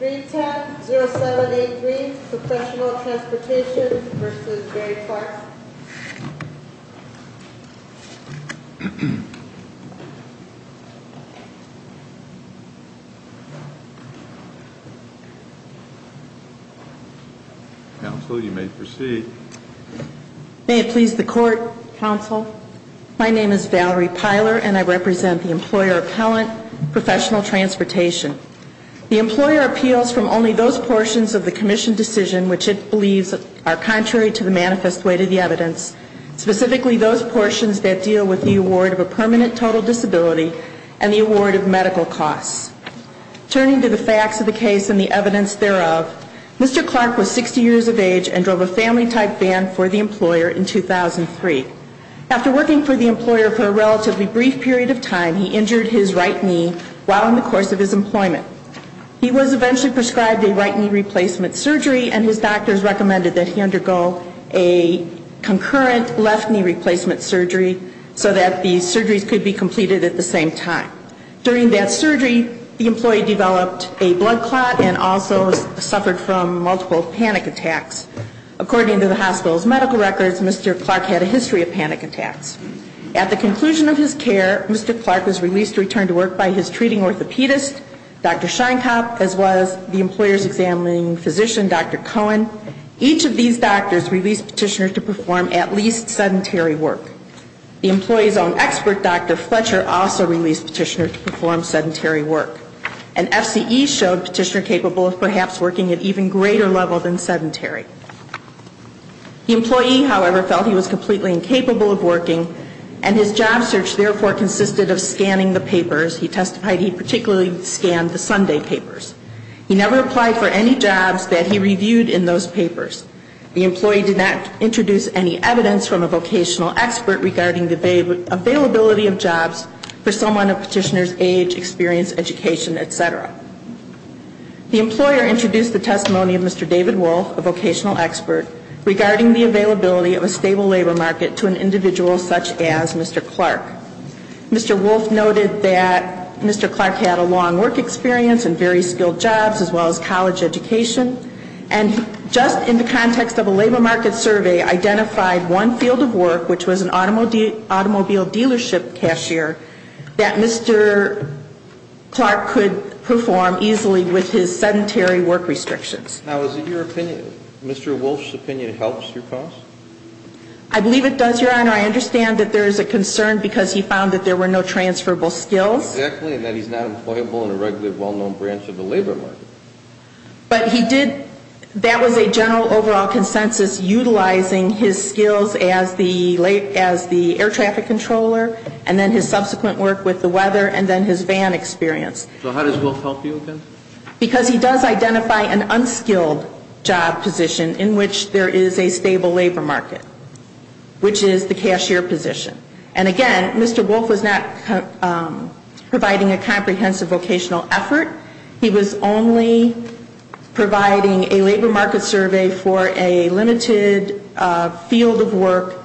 310-0783 Professional Transportation v. Gary Clark Counsel, you may proceed. May it please the Court, Counsel. My name is Valerie Pyler and I represent the employer appellant, Professional Transportation. The employer appeals from only those portions of the Commission decision which it believes are contrary to the manifest way to the evidence, specifically those portions that deal with the award of a permanent total disability and the award of medical costs. Turning to the facts of the case and the evidence thereof, Mr. Clark was 60 years of age and drove a family-type van for the employer in 2003. After working for the employer for a relatively brief period of time, he injured his right knee while in the course of his employment. He was eventually prescribed a right knee replacement surgery and his doctors recommended that he undergo a concurrent left knee replacement surgery so that the surgeries could be completed at the same time. During that surgery, the employee developed a blood clot and also suffered from multiple panic attacks. According to the hospital's medical records, Mr. Clark had a history of panic attacks. At the conclusion of his care, Mr. Clark was released to return to work by his treating orthopedist, Dr. Sheinkopf, as well as the employer's examining physician, Dr. Cohen. Each of these doctors released Petitioner to perform at least sedentary work. The employee's own expert, Dr. Fletcher, also released Petitioner to perform sedentary work. And FCE showed Petitioner capable of perhaps working at even greater level than sedentary. The employee, however, felt he was completely incapable of working and his job search therefore consisted of scanning the papers. He testified he particularly scanned the Sunday papers. He never applied for any jobs that he reviewed in those papers. The employee did not introduce any evidence from a vocational expert regarding the availability of jobs for someone of Petitioner's age, experience, education, etc. The employer introduced the testimony of Mr. David Wolfe, a vocational expert, regarding the availability of a stable labor market to an individual such as Mr. Clark. Mr. Wolfe noted that Mr. Clark had a long work experience and very skilled jobs, as well as college education, and just in the context of a labor market survey, identified one field of work, which was an automobile dealership cashier, that Mr. Clark could perform easily with his sedentary work restrictions. Now, is it your opinion, Mr. Wolfe's opinion helps your cause? I believe it does, Your Honor. I understand that there is a concern because he found that there were no transferable skills. Exactly, and that he's not employable in a regularly well-known branch of the labor market. But he did, that was a general overall consensus utilizing his skills as the air traffic controller, and then his subsequent work with the weather, and then his van experience. So how does Wolfe help you, again? Because he does identify an unskilled job position in which there is a stable labor market, which is the cashier position. And again, Mr. Wolfe was not providing a comprehensive vocational effort. He was only providing a labor market survey for a limited field of work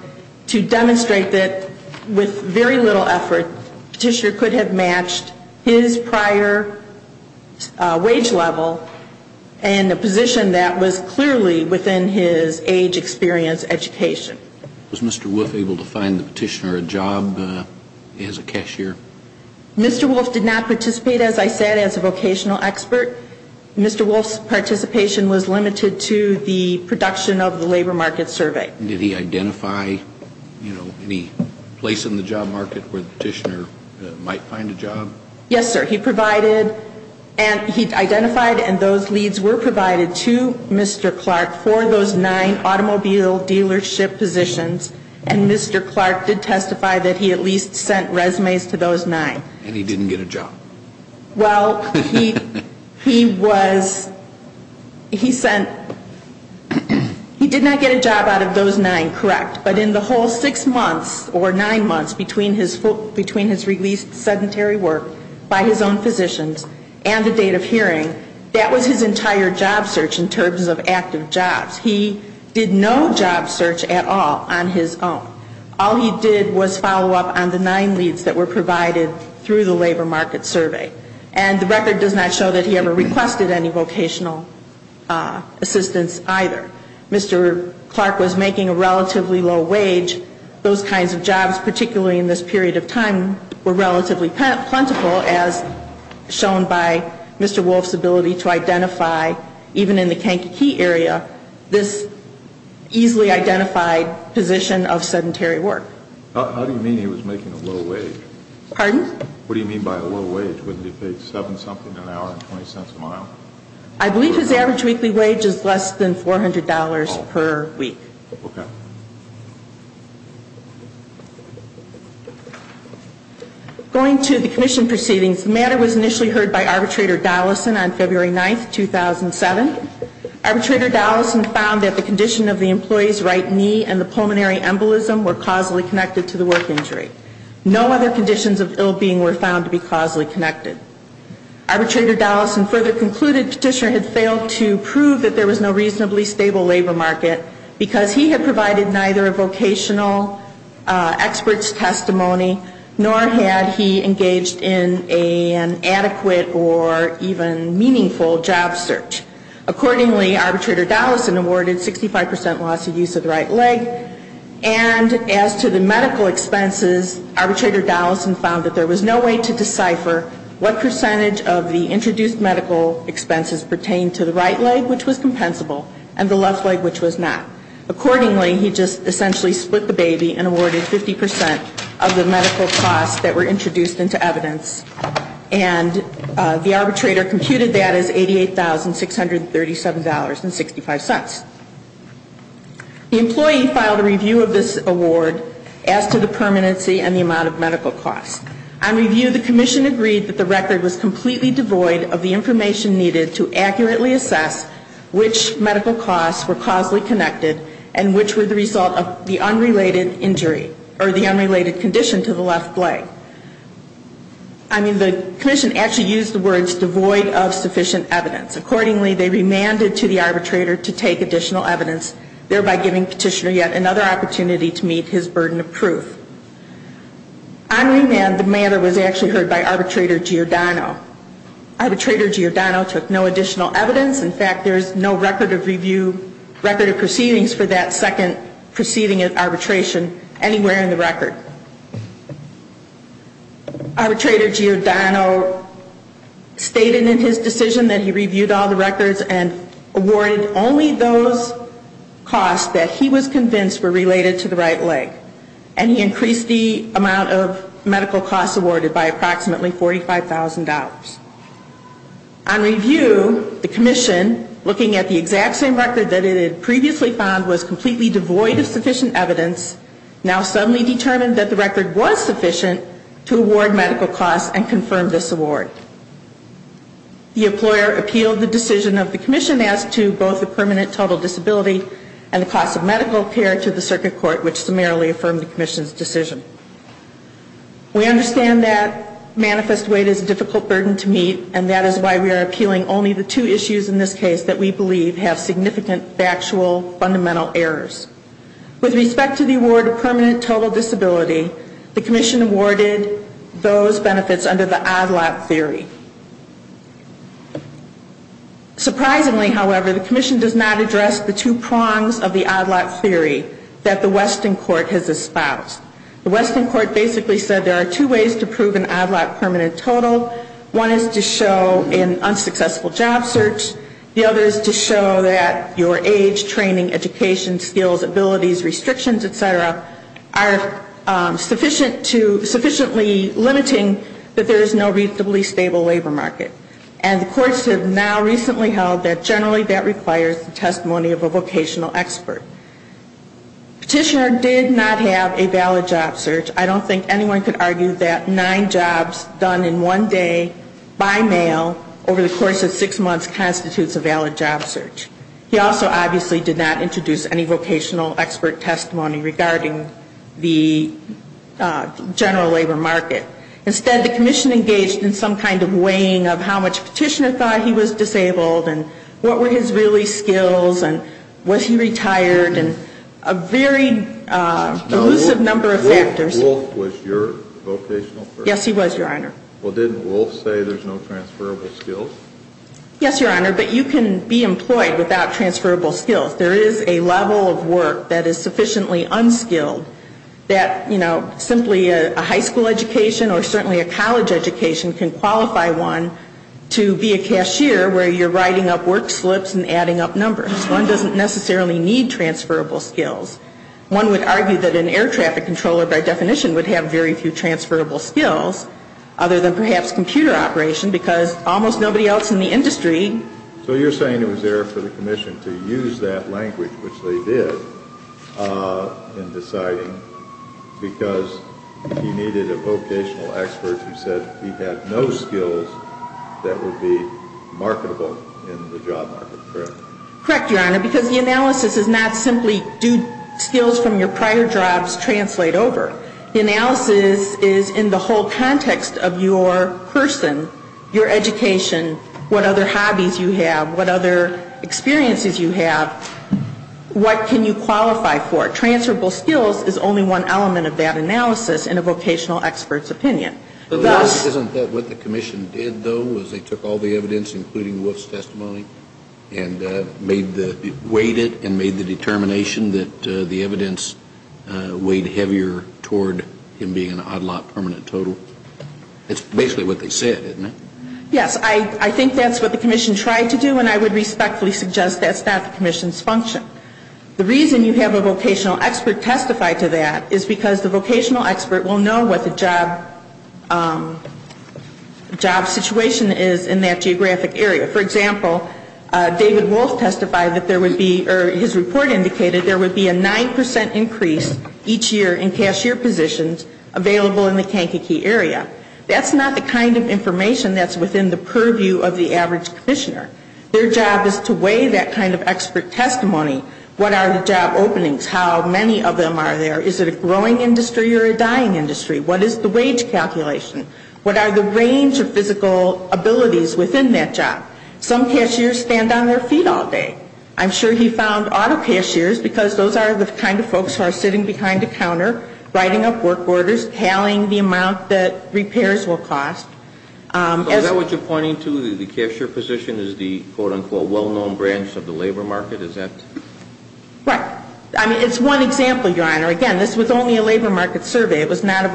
to demonstrate that with very little effort, the petitioner could have matched his prior wage level in a position that was clearly within his age experience education. Was Mr. Wolfe able to find the petitioner a job as a cashier? Mr. Wolfe did not participate, as I said, as a vocational expert. Mr. Wolfe's participation was limited to the production of the labor market survey. Did he identify, you know, any place in the job market where the petitioner might find a job? Yes, sir. He provided and he identified and those leads were provided to Mr. Clark for those nine automobile dealership positions. And Mr. Clark did testify that he at least sent resumes to those nine. And he didn't get a job. Well, he was, he sent, he did not get a job out of those nine, correct. But in the whole six months or nine months between his released sedentary work by his own physicians and the date of hearing, that was his entire job search in terms of active jobs. He did no job search at all on his own. All he did was follow up on the nine leads that were provided through the labor market survey. And the record does not show that he ever requested any vocational assistance either. Mr. Clark was making a relatively low wage. Those kinds of jobs, particularly in this period of time, were relatively plentiful as shown by Mr. Wolfe's ability to identify, even in the Kankakee area, this easily identified position of sedentary work. How do you mean he was making a low wage? Pardon? What do you mean by a low wage? Wouldn't he have paid seven something an hour and 20 cents a mile? I believe his average weekly wage is less than $400 per week. Okay. Going to the commission proceedings, the matter was initially heard by Arbitrator Dollison on February 9, 2007. Arbitrator Dollison found that the condition of the employee's right knee and the pulmonary embolism were causally connected to the work injury. No other conditions of ill being were found to be causally connected. Arbitrator Dollison further concluded Petitioner had failed to prove that there was no reasonably stable labor market because he had provided neither a vocational expert's testimony, nor had he engaged in an adequate or even meaningful job search. Accordingly, Arbitrator Dollison awarded 65% loss of use of the right leg. And as to the medical expenses, Arbitrator Dollison found that there was no way to decipher what percentage of the introduced medical expenses pertained to the right leg, which was compensable, and the left leg, which was not. Accordingly, he just essentially split the baby and awarded 50% of the medical costs that were introduced into evidence. And the arbitrator computed that as $88,637.65. The employee filed a review of this award as to the permanency and the amount of medical costs. On review, the commission agreed that the record was completely devoid of the information needed to accurately assess which medical costs were causally connected and which were the result of the unrelated injury or the unrelated condition to the left leg. I mean, the commission actually used the words devoid of sufficient evidence. Accordingly, they remanded to the arbitrator to take additional evidence, thereby giving Petitioner yet another opportunity to meet his burden of proof. On remand, the matter was actually heard by Arbitrator Giordano. Arbitrator Giordano took no additional evidence. In fact, there is no record of proceedings for that second proceeding of arbitration anywhere in the record. Arbitrator Giordano stated in his decision that he reviewed all the records and awarded only those costs that he was convinced were related to the right leg. And he increased the amount of medical costs awarded by approximately $45,000. On review, the commission, looking at the exact same record that it had previously found was completely devoid of sufficient evidence, now suddenly determined that the record was sufficient to award medical costs and confirm this award. The employer appealed the decision of the commission as to both the permanent total disability and the cost of medical care to the circuit court, which summarily affirmed the commission's decision. We understand that manifest weight is a difficult burden to meet, and that is why we are appealing only the two issues in this case that we believe have significant factual fundamental errors. With respect to the award of permanent total disability, the commission awarded those benefits under the odd lot theory. Surprisingly, however, the commission does not address the two prongs of the odd lot theory that the Weston court has espoused. The Weston court basically said there are two ways to prove an odd lot permanent total. One is to show an unsuccessful job search. The other is to show that your age, training, education, skills, abilities, restrictions, et cetera, are sufficiently limiting that there is no reasonably stable labor market. And the courts have now recently held that generally that requires the testimony of a vocational expert. Petitioner did not have a valid job search. I don't think anyone could argue that nine jobs done in one day by mail over the course of six months constitutes a valid job search. He also obviously did not introduce any vocational expert testimony regarding the general labor market. Instead, the commission engaged in some kind of weighing of how much Petitioner thought he was disabled and what were his really skills and was he retired and a very elusive number of factors. So Wolf was your vocational expert? Yes, he was, Your Honor. Well, didn't Wolf say there's no transferable skills? Yes, Your Honor, but you can be employed without transferable skills. There is a level of work that is sufficiently unskilled that, you know, simply a high school education or certainly a college education can qualify one to be a cashier where you're writing up work slips and adding up numbers. One doesn't necessarily need transferable skills. One would argue that an air traffic controller by definition would have very few transferable skills other than perhaps computer operation because almost nobody else in the industry. So you're saying it was there for the commission to use that language, which they did, in deciding because he needed a vocational expert who said he had no skills that would be marketable in the job market, correct? Correct, Your Honor, because the analysis is not simply do skills from your prior jobs translate over. The analysis is in the whole context of your person, your education, what other hobbies you have, what other experiences you have, what can you qualify for. Transferable skills is only one element of that analysis in a vocational expert's opinion. Isn't that what the commission did, though, was they took all the evidence, including Wolf's testimony, and weighed it and made the determination that the evidence weighed heavier toward him being an odd lot permanent total? That's basically what they said, isn't it? Yes, I think that's what the commission tried to do, and I would respectfully suggest that's not the commission's function. The reason you have a vocational expert testify to that is because the vocational expert will know what the job situation is in that geographic area. For example, David Wolf testified that there would be, or his report indicated there would be a 9% increase each year in cashier positions available in the Kankakee area. That's not the kind of information that's within the purview of the average commissioner. Their job is to weigh that kind of expert testimony. What are the job openings? How many of them are there? Is it a growing industry or a dying industry? What is the wage calculation? What are the range of physical abilities within that job? Some cashiers stand on their feet all day. I'm sure he found auto cashiers, because those are the kind of folks who are sitting behind a counter, writing up work orders, tallying the amount that repairs will cost. So is that what you're pointing to, that the cashier position is the quote-unquote well-known branch of the labor market? Is that? Right. I mean, it's one example, Your Honor. Again, this was only a labor market survey. It was not a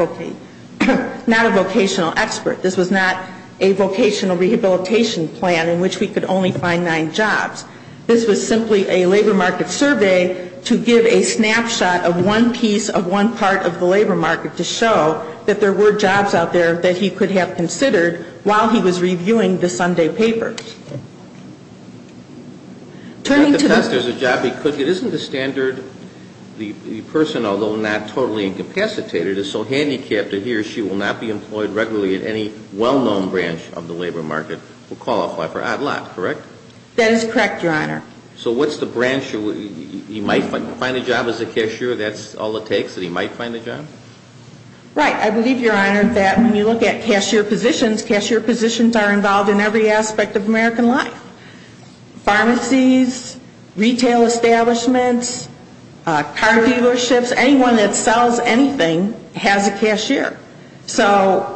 vocational expert. This was not a vocational rehabilitation plan in which we could only find nine jobs. This was simply a labor market survey to give a snapshot of one piece of one piece of information. It was not part of the labor market to show that there were jobs out there that he could have considered while he was reviewing the Sunday papers. Turning to the question of whether there's a job he could get, isn't the standard, the person, although not totally incapacitated, is so handicapped that he or she will not be employed regularly at any well-known branch of the labor market will qualify for ADLAT, correct? That is correct, Your Honor. So what's the branch? He might find a job as a cashier. That's all it takes, that he might find a job? Right. I believe, Your Honor, that when you look at cashier positions, cashier positions are involved in every aspect of American life. Pharmacies, retail establishments, car dealerships, anyone that sells anything has a cashier. So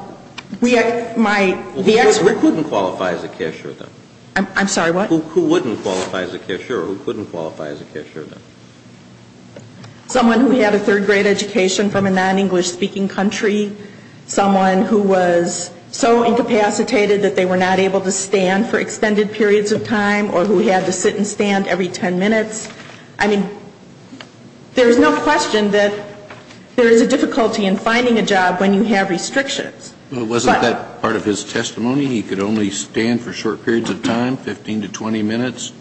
we might be expert. Who wouldn't qualify as a cashier, though? I'm sorry, what? Who wouldn't qualify as a cashier or who couldn't qualify as a cashier, then? Someone who had a third-grade education from a non-English-speaking country, someone who was so incapacitated that they were not able to stand for extended periods of time or who had to sit and stand every 10 minutes. I mean, there is no question that there is a difficulty in finding a job when you have restrictions. But wasn't that part of his testimony? He could only stand for short periods of time, 15 to 20 minutes.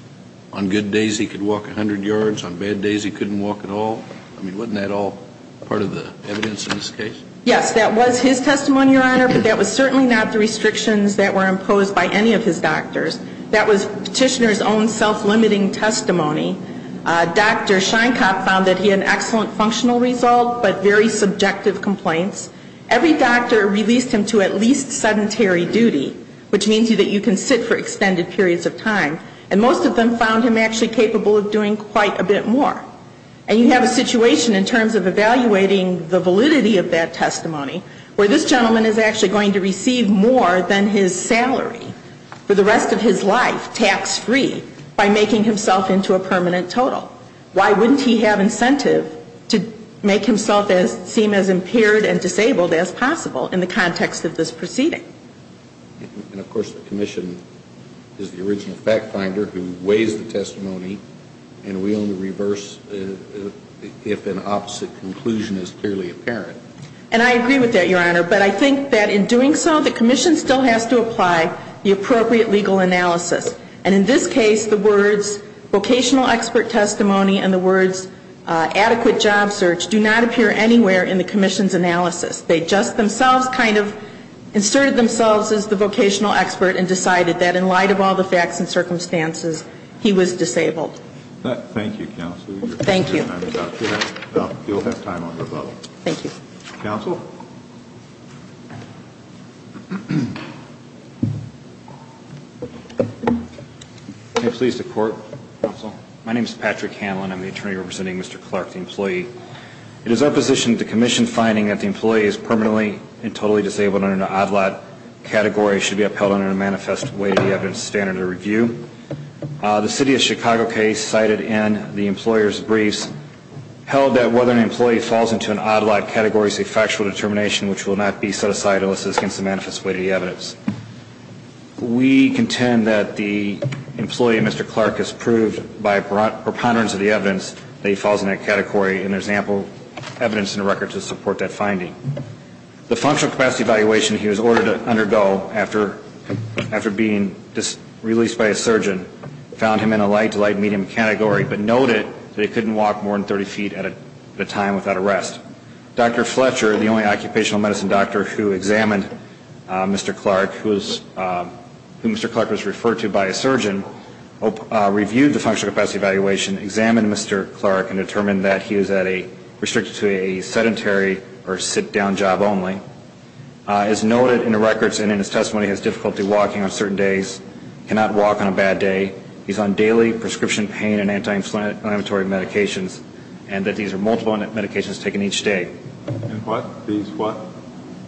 On good days, he could walk 100 yards. On bad days, he couldn't walk at all. I mean, wasn't that all part of the evidence in this case? Yes, that was his testimony, Your Honor, but that was certainly not the restrictions that were imposed by any of his doctors. That was Petitioner's own self-limiting testimony. Dr. Sheinkopf found that he had an excellent functional result, but very subjective complaints. Every doctor released him to at least sedentary duty, which means that you can sit for extended periods of time, and most of them found him actually capable of doing quite a bit more. And you have a situation in terms of evaluating the validity of that testimony where this gentleman is actually going to receive more than his salary for the rest of his life, tax-free, by making himself into a permanent total. Why wouldn't he have incentive to make himself seem as impaired and disabled as possible in the context of this proceeding? And, of course, the Commission is the original fact-finder who weighs the testimony, and we only reverse if an opposite conclusion is clearly apparent. And I agree with that, Your Honor, but I think that in doing so, the Commission still has to apply the appropriate legal analysis. And in this case, the words, vocational expert testimony, and the words, adequate job search, do not appear anywhere in the Commission's analysis. They just themselves kind of inserted themselves as the vocational expert and decided that in light of all the facts and circumstances, Thank you, counsel. I'm pleased to court, counsel. My name is Patrick Hanlon. I'm the attorney representing Mr. Clark, the employee. It is our position that the Commission finding that the employee is permanently and totally disabled under an odd lot category should be upheld under a manifest weight of the evidence standard of review. The City of Chicago case cited in the employer's briefs held that whether an employee falls into an odd lot category is a factual determination, which will not be set aside unless it is against the manifest weight of the evidence. We contend that the employee, Mr. Clark, has proved by preponderance of the evidence that he falls in that category, and there's ample evidence in the record to support that finding. The functional capacity evaluation he was ordered to undergo after being released by a surgeon found him in a light to light medium category, but noted that he couldn't walk more than 30 feet at a time without a rest. Dr. Fletcher, the only occupational medicine doctor who examined Mr. Clark, who Mr. Clark was referred to by a surgeon, reviewed the functional capacity evaluation, examined Mr. Clark, and determined that he was at a restricted to a sedentary or sit-down job only. As noted in the records and in his testimony, he has difficulty walking on certain days, cannot walk on a bad day, he's on daily prescription pain and anti-inflammatory medications, and that these are multiple medications taken each day.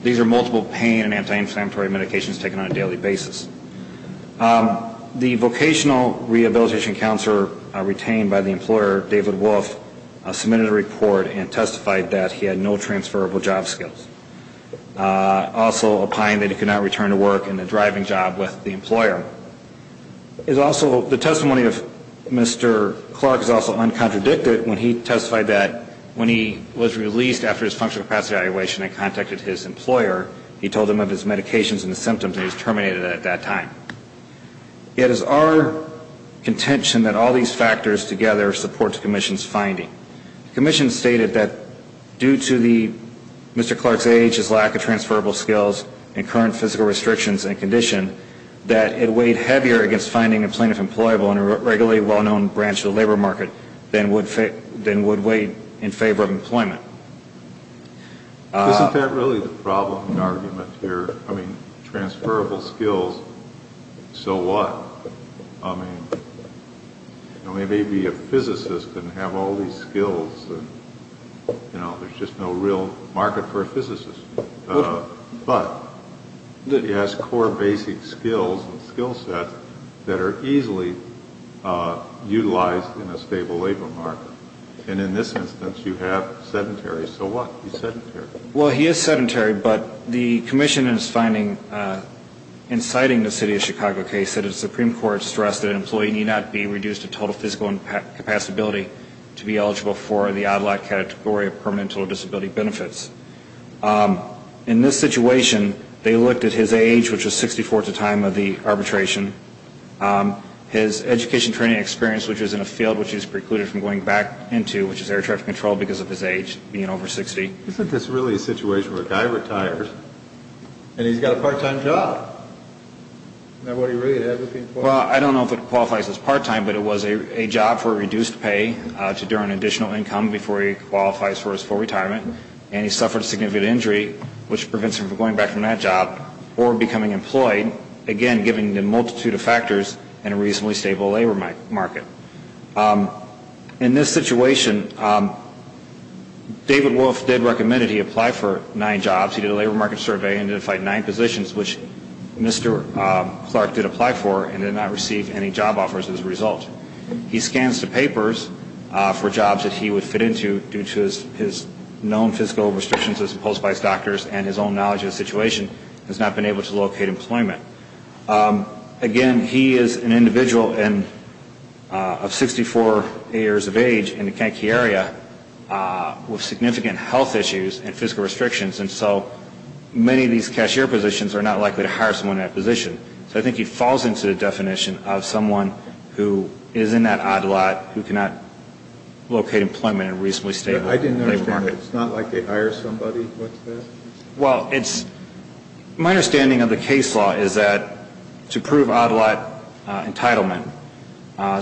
These are multiple pain and anti-inflammatory medications taken on a daily basis. The vocational rehabilitation counselor retained by the employer, David Wolf, submitted a report and testified that he had no transferable job skills. Also opined that he could not return to work in a driving job with the employer. The testimony of Mr. Clark is also uncontradicted when he testified that when he was released after his functional capacity evaluation and contacted his employer, he told them of his medications and symptoms and he was terminated at that time. It is our contention that all these factors together support the Commission's finding. The Commission stated that due to Mr. Clark's age, his lack of transferable skills, and current physical restrictions and condition, that it weighed heavier against finding a plaintiff employable in a regularly well-known branch of the labor market than would weigh in favor of employment. Isn't that really the problem, the argument here? I mean, transferable skills, so what? I mean, maybe a physicist couldn't have all these skills. You know, there's just no real market for a physicist. But he has core basic skills and skill sets that are easily utilized in a stable labor market. And in this instance, you have sedentary. So what? He's sedentary. Well, he is sedentary, but the Commission is finding, in citing the City of Chicago case, that he is in the odd lot category of permanent disability benefits. In this situation, they looked at his age, which was 64 at the time of the arbitration, his education training experience, which was in a field which he was precluded from going back into, which is air traffic control, because of his age, being over 60. Isn't this really a situation where a guy retires and he's got a part-time job? Isn't that what he really had? Well, I don't know if it qualifies as part-time, but it was a job for reduced pay to earn additional income before he qualifies for his full retirement, and he suffered a significant injury, which prevents him from going back from that job or becoming employed, again, given the multitude of factors in a reasonably stable labor market. In this situation, David Wolf did recommend that he apply for nine jobs. He did a labor market survey and identified nine positions which Mr. Clark did apply for and did not receive any job offers as a result. He scans the papers for jobs that he would fit into due to his known fiscal restrictions as opposed by his doctors and his own knowledge of the situation and has not been able to locate employment. Again, he is an individual of 64 years of age in the Kentucky area with significant health issues and fiscal restrictions, and so many of these cashier positions are not likely to hire someone in that position. So I think he falls into the definition of someone who is in that odd lot who cannot locate employment in a reasonably stable labor market. I didn't understand that. It's not like they hire somebody. What's that? Well, my understanding of the case law is that to prove odd lot entitlement,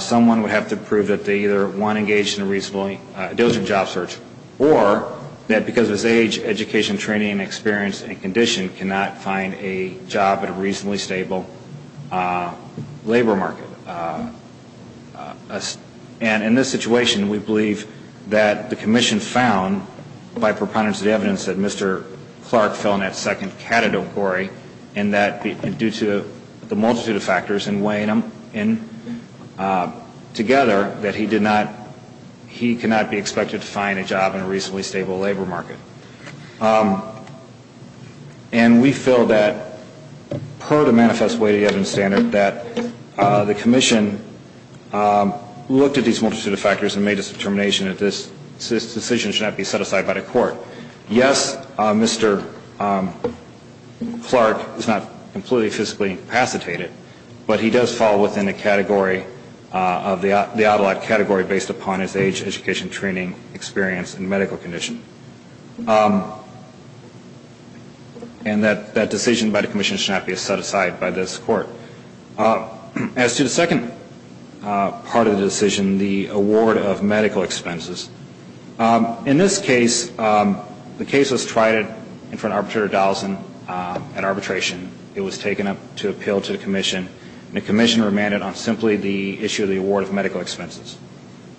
someone would have to prove that they either, one, engaged in a reasonably diligent job search or that because of his age, education, training, experience, and condition cannot find a job at a reasonably stable labor market. And in this situation, we believe that the commission found by preponderance of the evidence that Mr. Clark fell in that second category and that due to the multitude of factors and weighing them together that he cannot be expected to find a job in a reasonably stable labor market. And we feel that per the manifest way evidence standard that the commission looked at these multitude of factors and made a determination that this decision should not be set aside by the court. Yes, Mr. Clark is not completely fiscally incapacitated, but he does fall within the category of the odd lot category based upon his age, education, training, experience, and medical condition. And that decision by the commission should not be set aside by this court. As to the second part of the decision, the award of medical expenses, in this case, the case was tried in front of Arbitrator Dallesen at arbitration. It was taken up to appeal to the commission, and the commission remanded on simply the issue of the award of medical expenses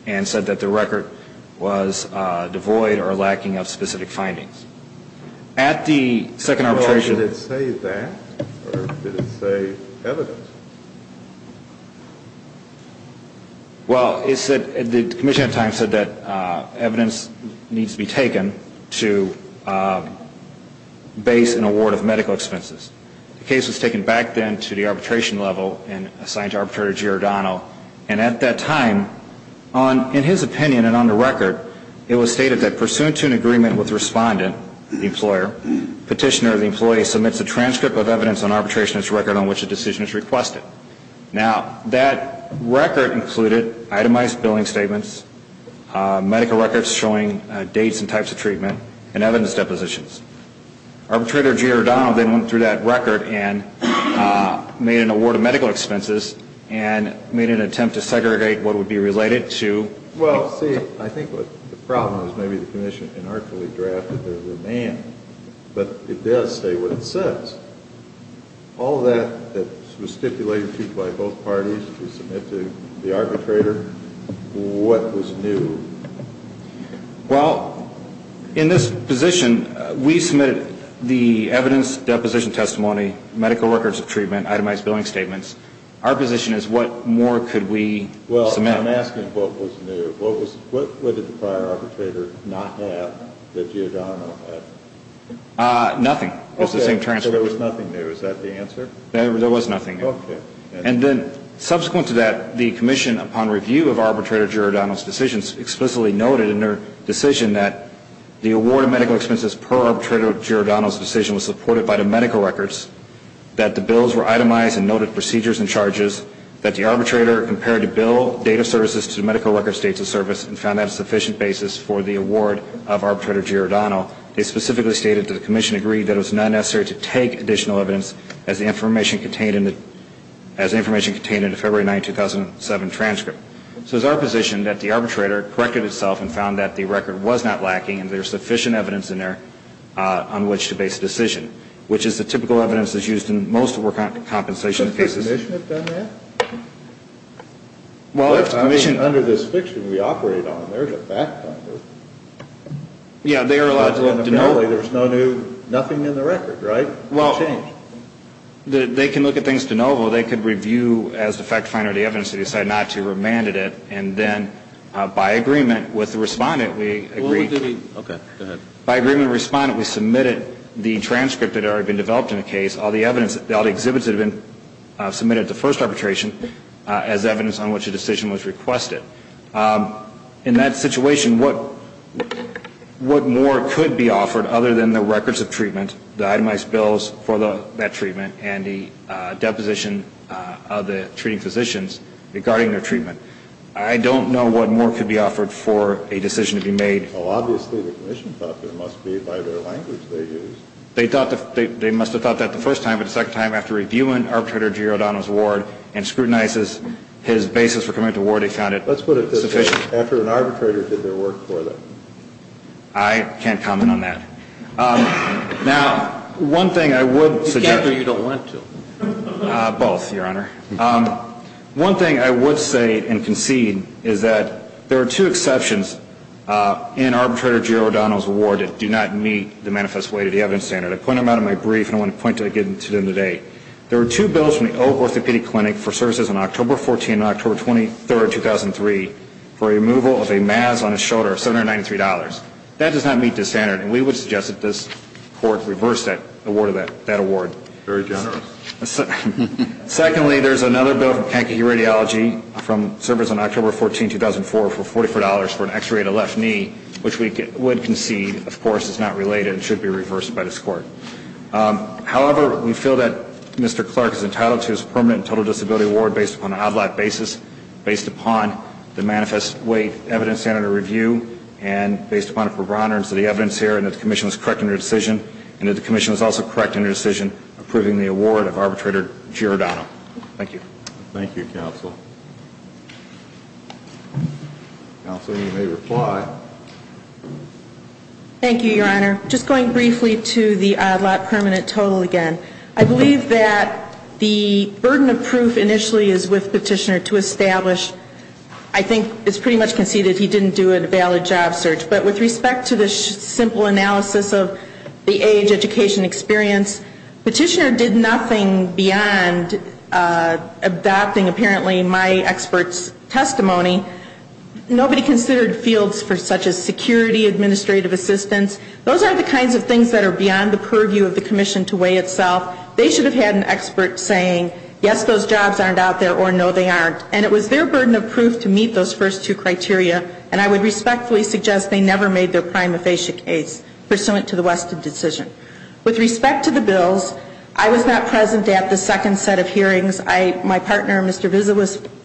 and said that the record was devoid or lacking of specific findings. At the second arbitration... Well, did it say that or did it say evidence? Well, the commission at the time said that evidence needs to be taken to base an award of medical expenses. The case was taken back then to the arbitration level and assigned to Arbitrator Giordano. And at that time, in his opinion and on the record, it was stated that pursuant to an agreement with the respondent, the employer, petitioner or the employee submits a transcript of evidence on arbitration Now, that record included itemized billing statements, medical records showing dates and types of treatment, and evidence depositions. Arbitrator Giordano then went through that record and made an award of medical expenses and made an attempt to segregate what would be related to... Well, see, I think the problem is maybe the commission inartfully drafted the remand, but it does say what it says. All of that that was stipulated by both parties to submit to the arbitrator, what was new? Well, in this position, we submitted the evidence, deposition testimony, medical records of treatment, itemized billing statements. Our position is what more could we submit? Well, I'm asking what was new. What did the prior arbitrator not have that Giordano had? Nothing. It was the same transcript. Okay, so there was nothing new. Is that the answer? There was nothing new. Okay. And then subsequent to that, the commission, upon review of Arbitrator Giordano's decisions, explicitly noted in their decision that the award of medical expenses per Arbitrator Giordano's decision was supported by the medical records, that the bills were itemized and noted procedures and charges, that the arbitrator compared the bill, date of services to the medical records, dates of service, and found that a sufficient basis for the award of Arbitrator Giordano. They specifically stated that the commission agreed that it was not necessary to take additional evidence as the information contained in the February 9, 2007, transcript. So it's our position that the arbitrator corrected itself and found that the record was not lacking and there's sufficient evidence in there on which to base a decision, which is the typical evidence that's used in most work on compensation cases. Does the commission have done that? Well, it's the commission. Under this fiction we operate on, there's a fact on there. Yeah, they are allowed to know. There's nothing in the record, right? Well, they can look at things de novo. They could review as the fact finder the evidence to decide not to remanded it and then by agreement with the respondent we agreed. Okay, go ahead. By agreement with the respondent we submitted the transcript that had already been developed in the case, all the exhibits that had been submitted at the first arbitration, as evidence on which a decision was requested. In that situation, what more could be offered other than the records of treatment, the itemized bills for that treatment, and the deposition of the treating physicians regarding their treatment? I don't know what more could be offered for a decision to be made. Well, obviously the commission thought there must be by their language they used. They must have thought that the first time, but the second time after reviewing Arbitrator G. O'Donnell's award and scrutinizes his basis for coming up with the award they found it sufficient. Let's put it this way. After an arbitrator did their work for them. I can't comment on that. Now, one thing I would suggest. You can't or you don't want to. Both, Your Honor. One thing I would say and concede is that there are two exceptions in Arbitrator G. O'Donnell's award that do not meet the manifest way to the evidence standard. I point them out in my brief and I want to point to them today. There are two bills from the Oak Orthopedic Clinic for services on October 14 and October 23, 2003 for removal of a mass on his shoulder of $793. That does not meet the standard, and we would suggest that this court reverse that award. Very generous. Secondly, there's another bill from Kankakee Radiology from service on October 14, 2004 for $44 for an x-ray of the left knee, which we would concede, of course, is not related and should be reversed by this court. However, we feel that Mr. Clark is entitled to his permanent and total disability award based upon an ad-lib basis, based upon the manifest way evidence standard review, and based upon the prerogatives of the evidence here and that the commission was correct in their decision and that the commission was also correct in their decision approving the award of Arbitrator G. O'Donnell. Thank you. Thank you, Counsel. Counsel, you may reply. Thank you, Your Honor. Just going briefly to the ad-lib permanent total again, I believe that the burden of proof initially is with Petitioner to establish, I think it's pretty much conceded he didn't do a valid job search, but with respect to the simple analysis of the age, education, experience, Petitioner did nothing beyond adopting, apparently, my expert's testimony. Nobody considered fields such as security, administrative assistance. Those are the kinds of things that are beyond the purview of the commission to weigh itself. They should have had an expert saying, yes, those jobs aren't out there, or no, they aren't. And it was their burden of proof to meet those first two criteria, and I would respectfully suggest they never made their prima facie case pursuant to the Weston decision. With respect to the bills, I was not present at the second set of hearings. My partner, Mr. Vizza,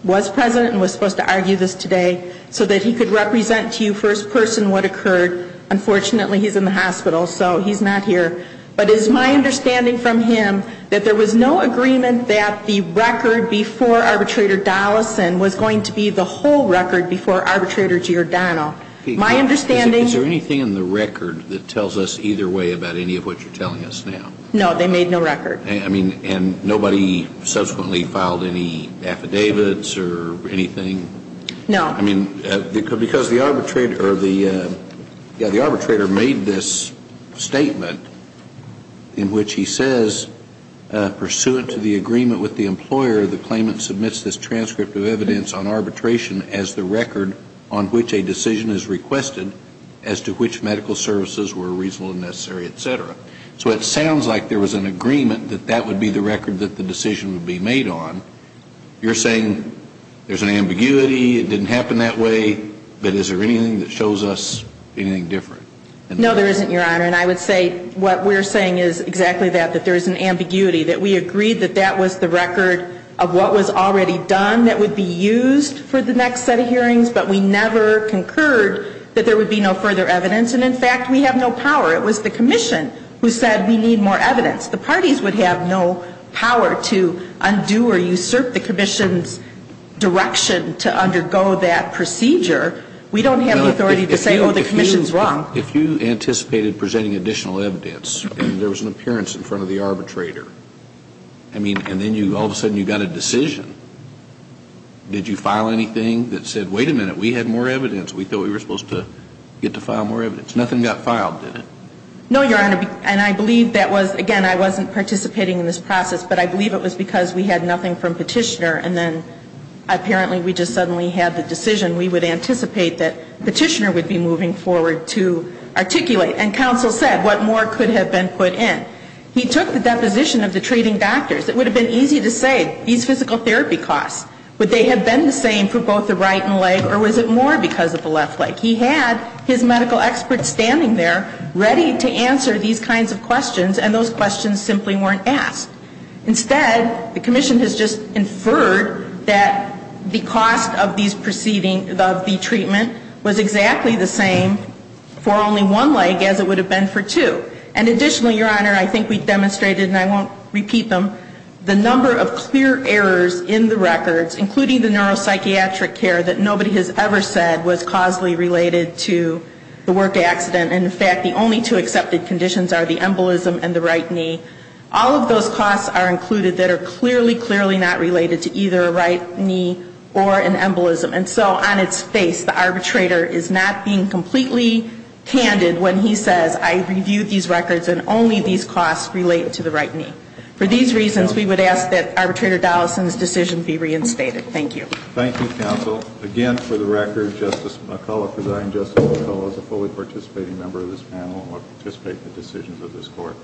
was present and was supposed to argue this today so that he could represent to you first person what occurred. Unfortunately, he's in the hospital, so he's not here. But it is my understanding from him that there was no agreement that the record before Arbitrator Dollison was going to be the whole record before Arbitrator Giordano. My understanding ñ Is there anything in the record that tells us either way about any of what you're telling us now? No, they made no record. I mean, and nobody subsequently filed any affidavits or anything? No. I mean, because the arbitrator made this statement in which he says, pursuant to the agreement with the employer, the claimant submits this transcript of evidence on arbitration as the record on which a decision is requested as to which medical services were reasonable and necessary, et cetera. So it sounds like there was an agreement that that would be the record that the decision would be made on. You're saying there's an ambiguity, it didn't happen that way, but is there anything that shows us anything different? No, there isn't, Your Honor. And I would say what we're saying is exactly that, that there is an ambiguity, that we agreed that that was the record of what was already done that would be used for the next set of hearings, but we never concurred that there would be no further evidence. And in fact, we have no power. It was the Commission who said we need more evidence. The parties would have no power to undo or usurp the Commission's direction to undergo that procedure. We don't have the authority to say, oh, the Commission's wrong. If you anticipated presenting additional evidence and there was an appearance in front of the arbitrator, I mean, and then all of a sudden you got a decision, did you file anything that said, wait a minute, we had more evidence, we thought we were supposed to get to file more evidence? Nothing got filed, did it? No, Your Honor. And I believe that was, again, I wasn't participating in this process, but I believe it was because we had nothing from Petitioner and then apparently we just suddenly had the decision we would anticipate that Petitioner would be moving forward to articulate. And counsel said, what more could have been put in? He took the deposition of the treating doctors. It would have been easy to say, these physical therapy costs, would they have been the same for both the right leg or was it more because of the left leg? He had his medical experts standing there ready to answer these kinds of questions and those questions simply weren't asked. Instead, the Commission has just inferred that the cost of these proceedings, of the treatment, was exactly the same for only one leg as it would have been for two. And additionally, Your Honor, I think we demonstrated, and I won't repeat them, the number of clear errors in the records, including the neuropsychiatric care, that nobody has ever said was causally related to the work accident. In fact, the only two accepted conditions are the embolism and the right knee. All of those costs are included that are clearly, clearly not related to either a right knee or an embolism. And so on its face, the arbitrator is not being completely candid when he says, I reviewed these records and only these costs relate to the right knee. For these reasons, we would ask that Arbitrator Dollison's decision be reinstated. Thank you. Thank you, counsel. Again, for the record, Justice McCullough, Presiding Justice McCullough is a fully participating member of this panel and will participate in the decisions of this Court.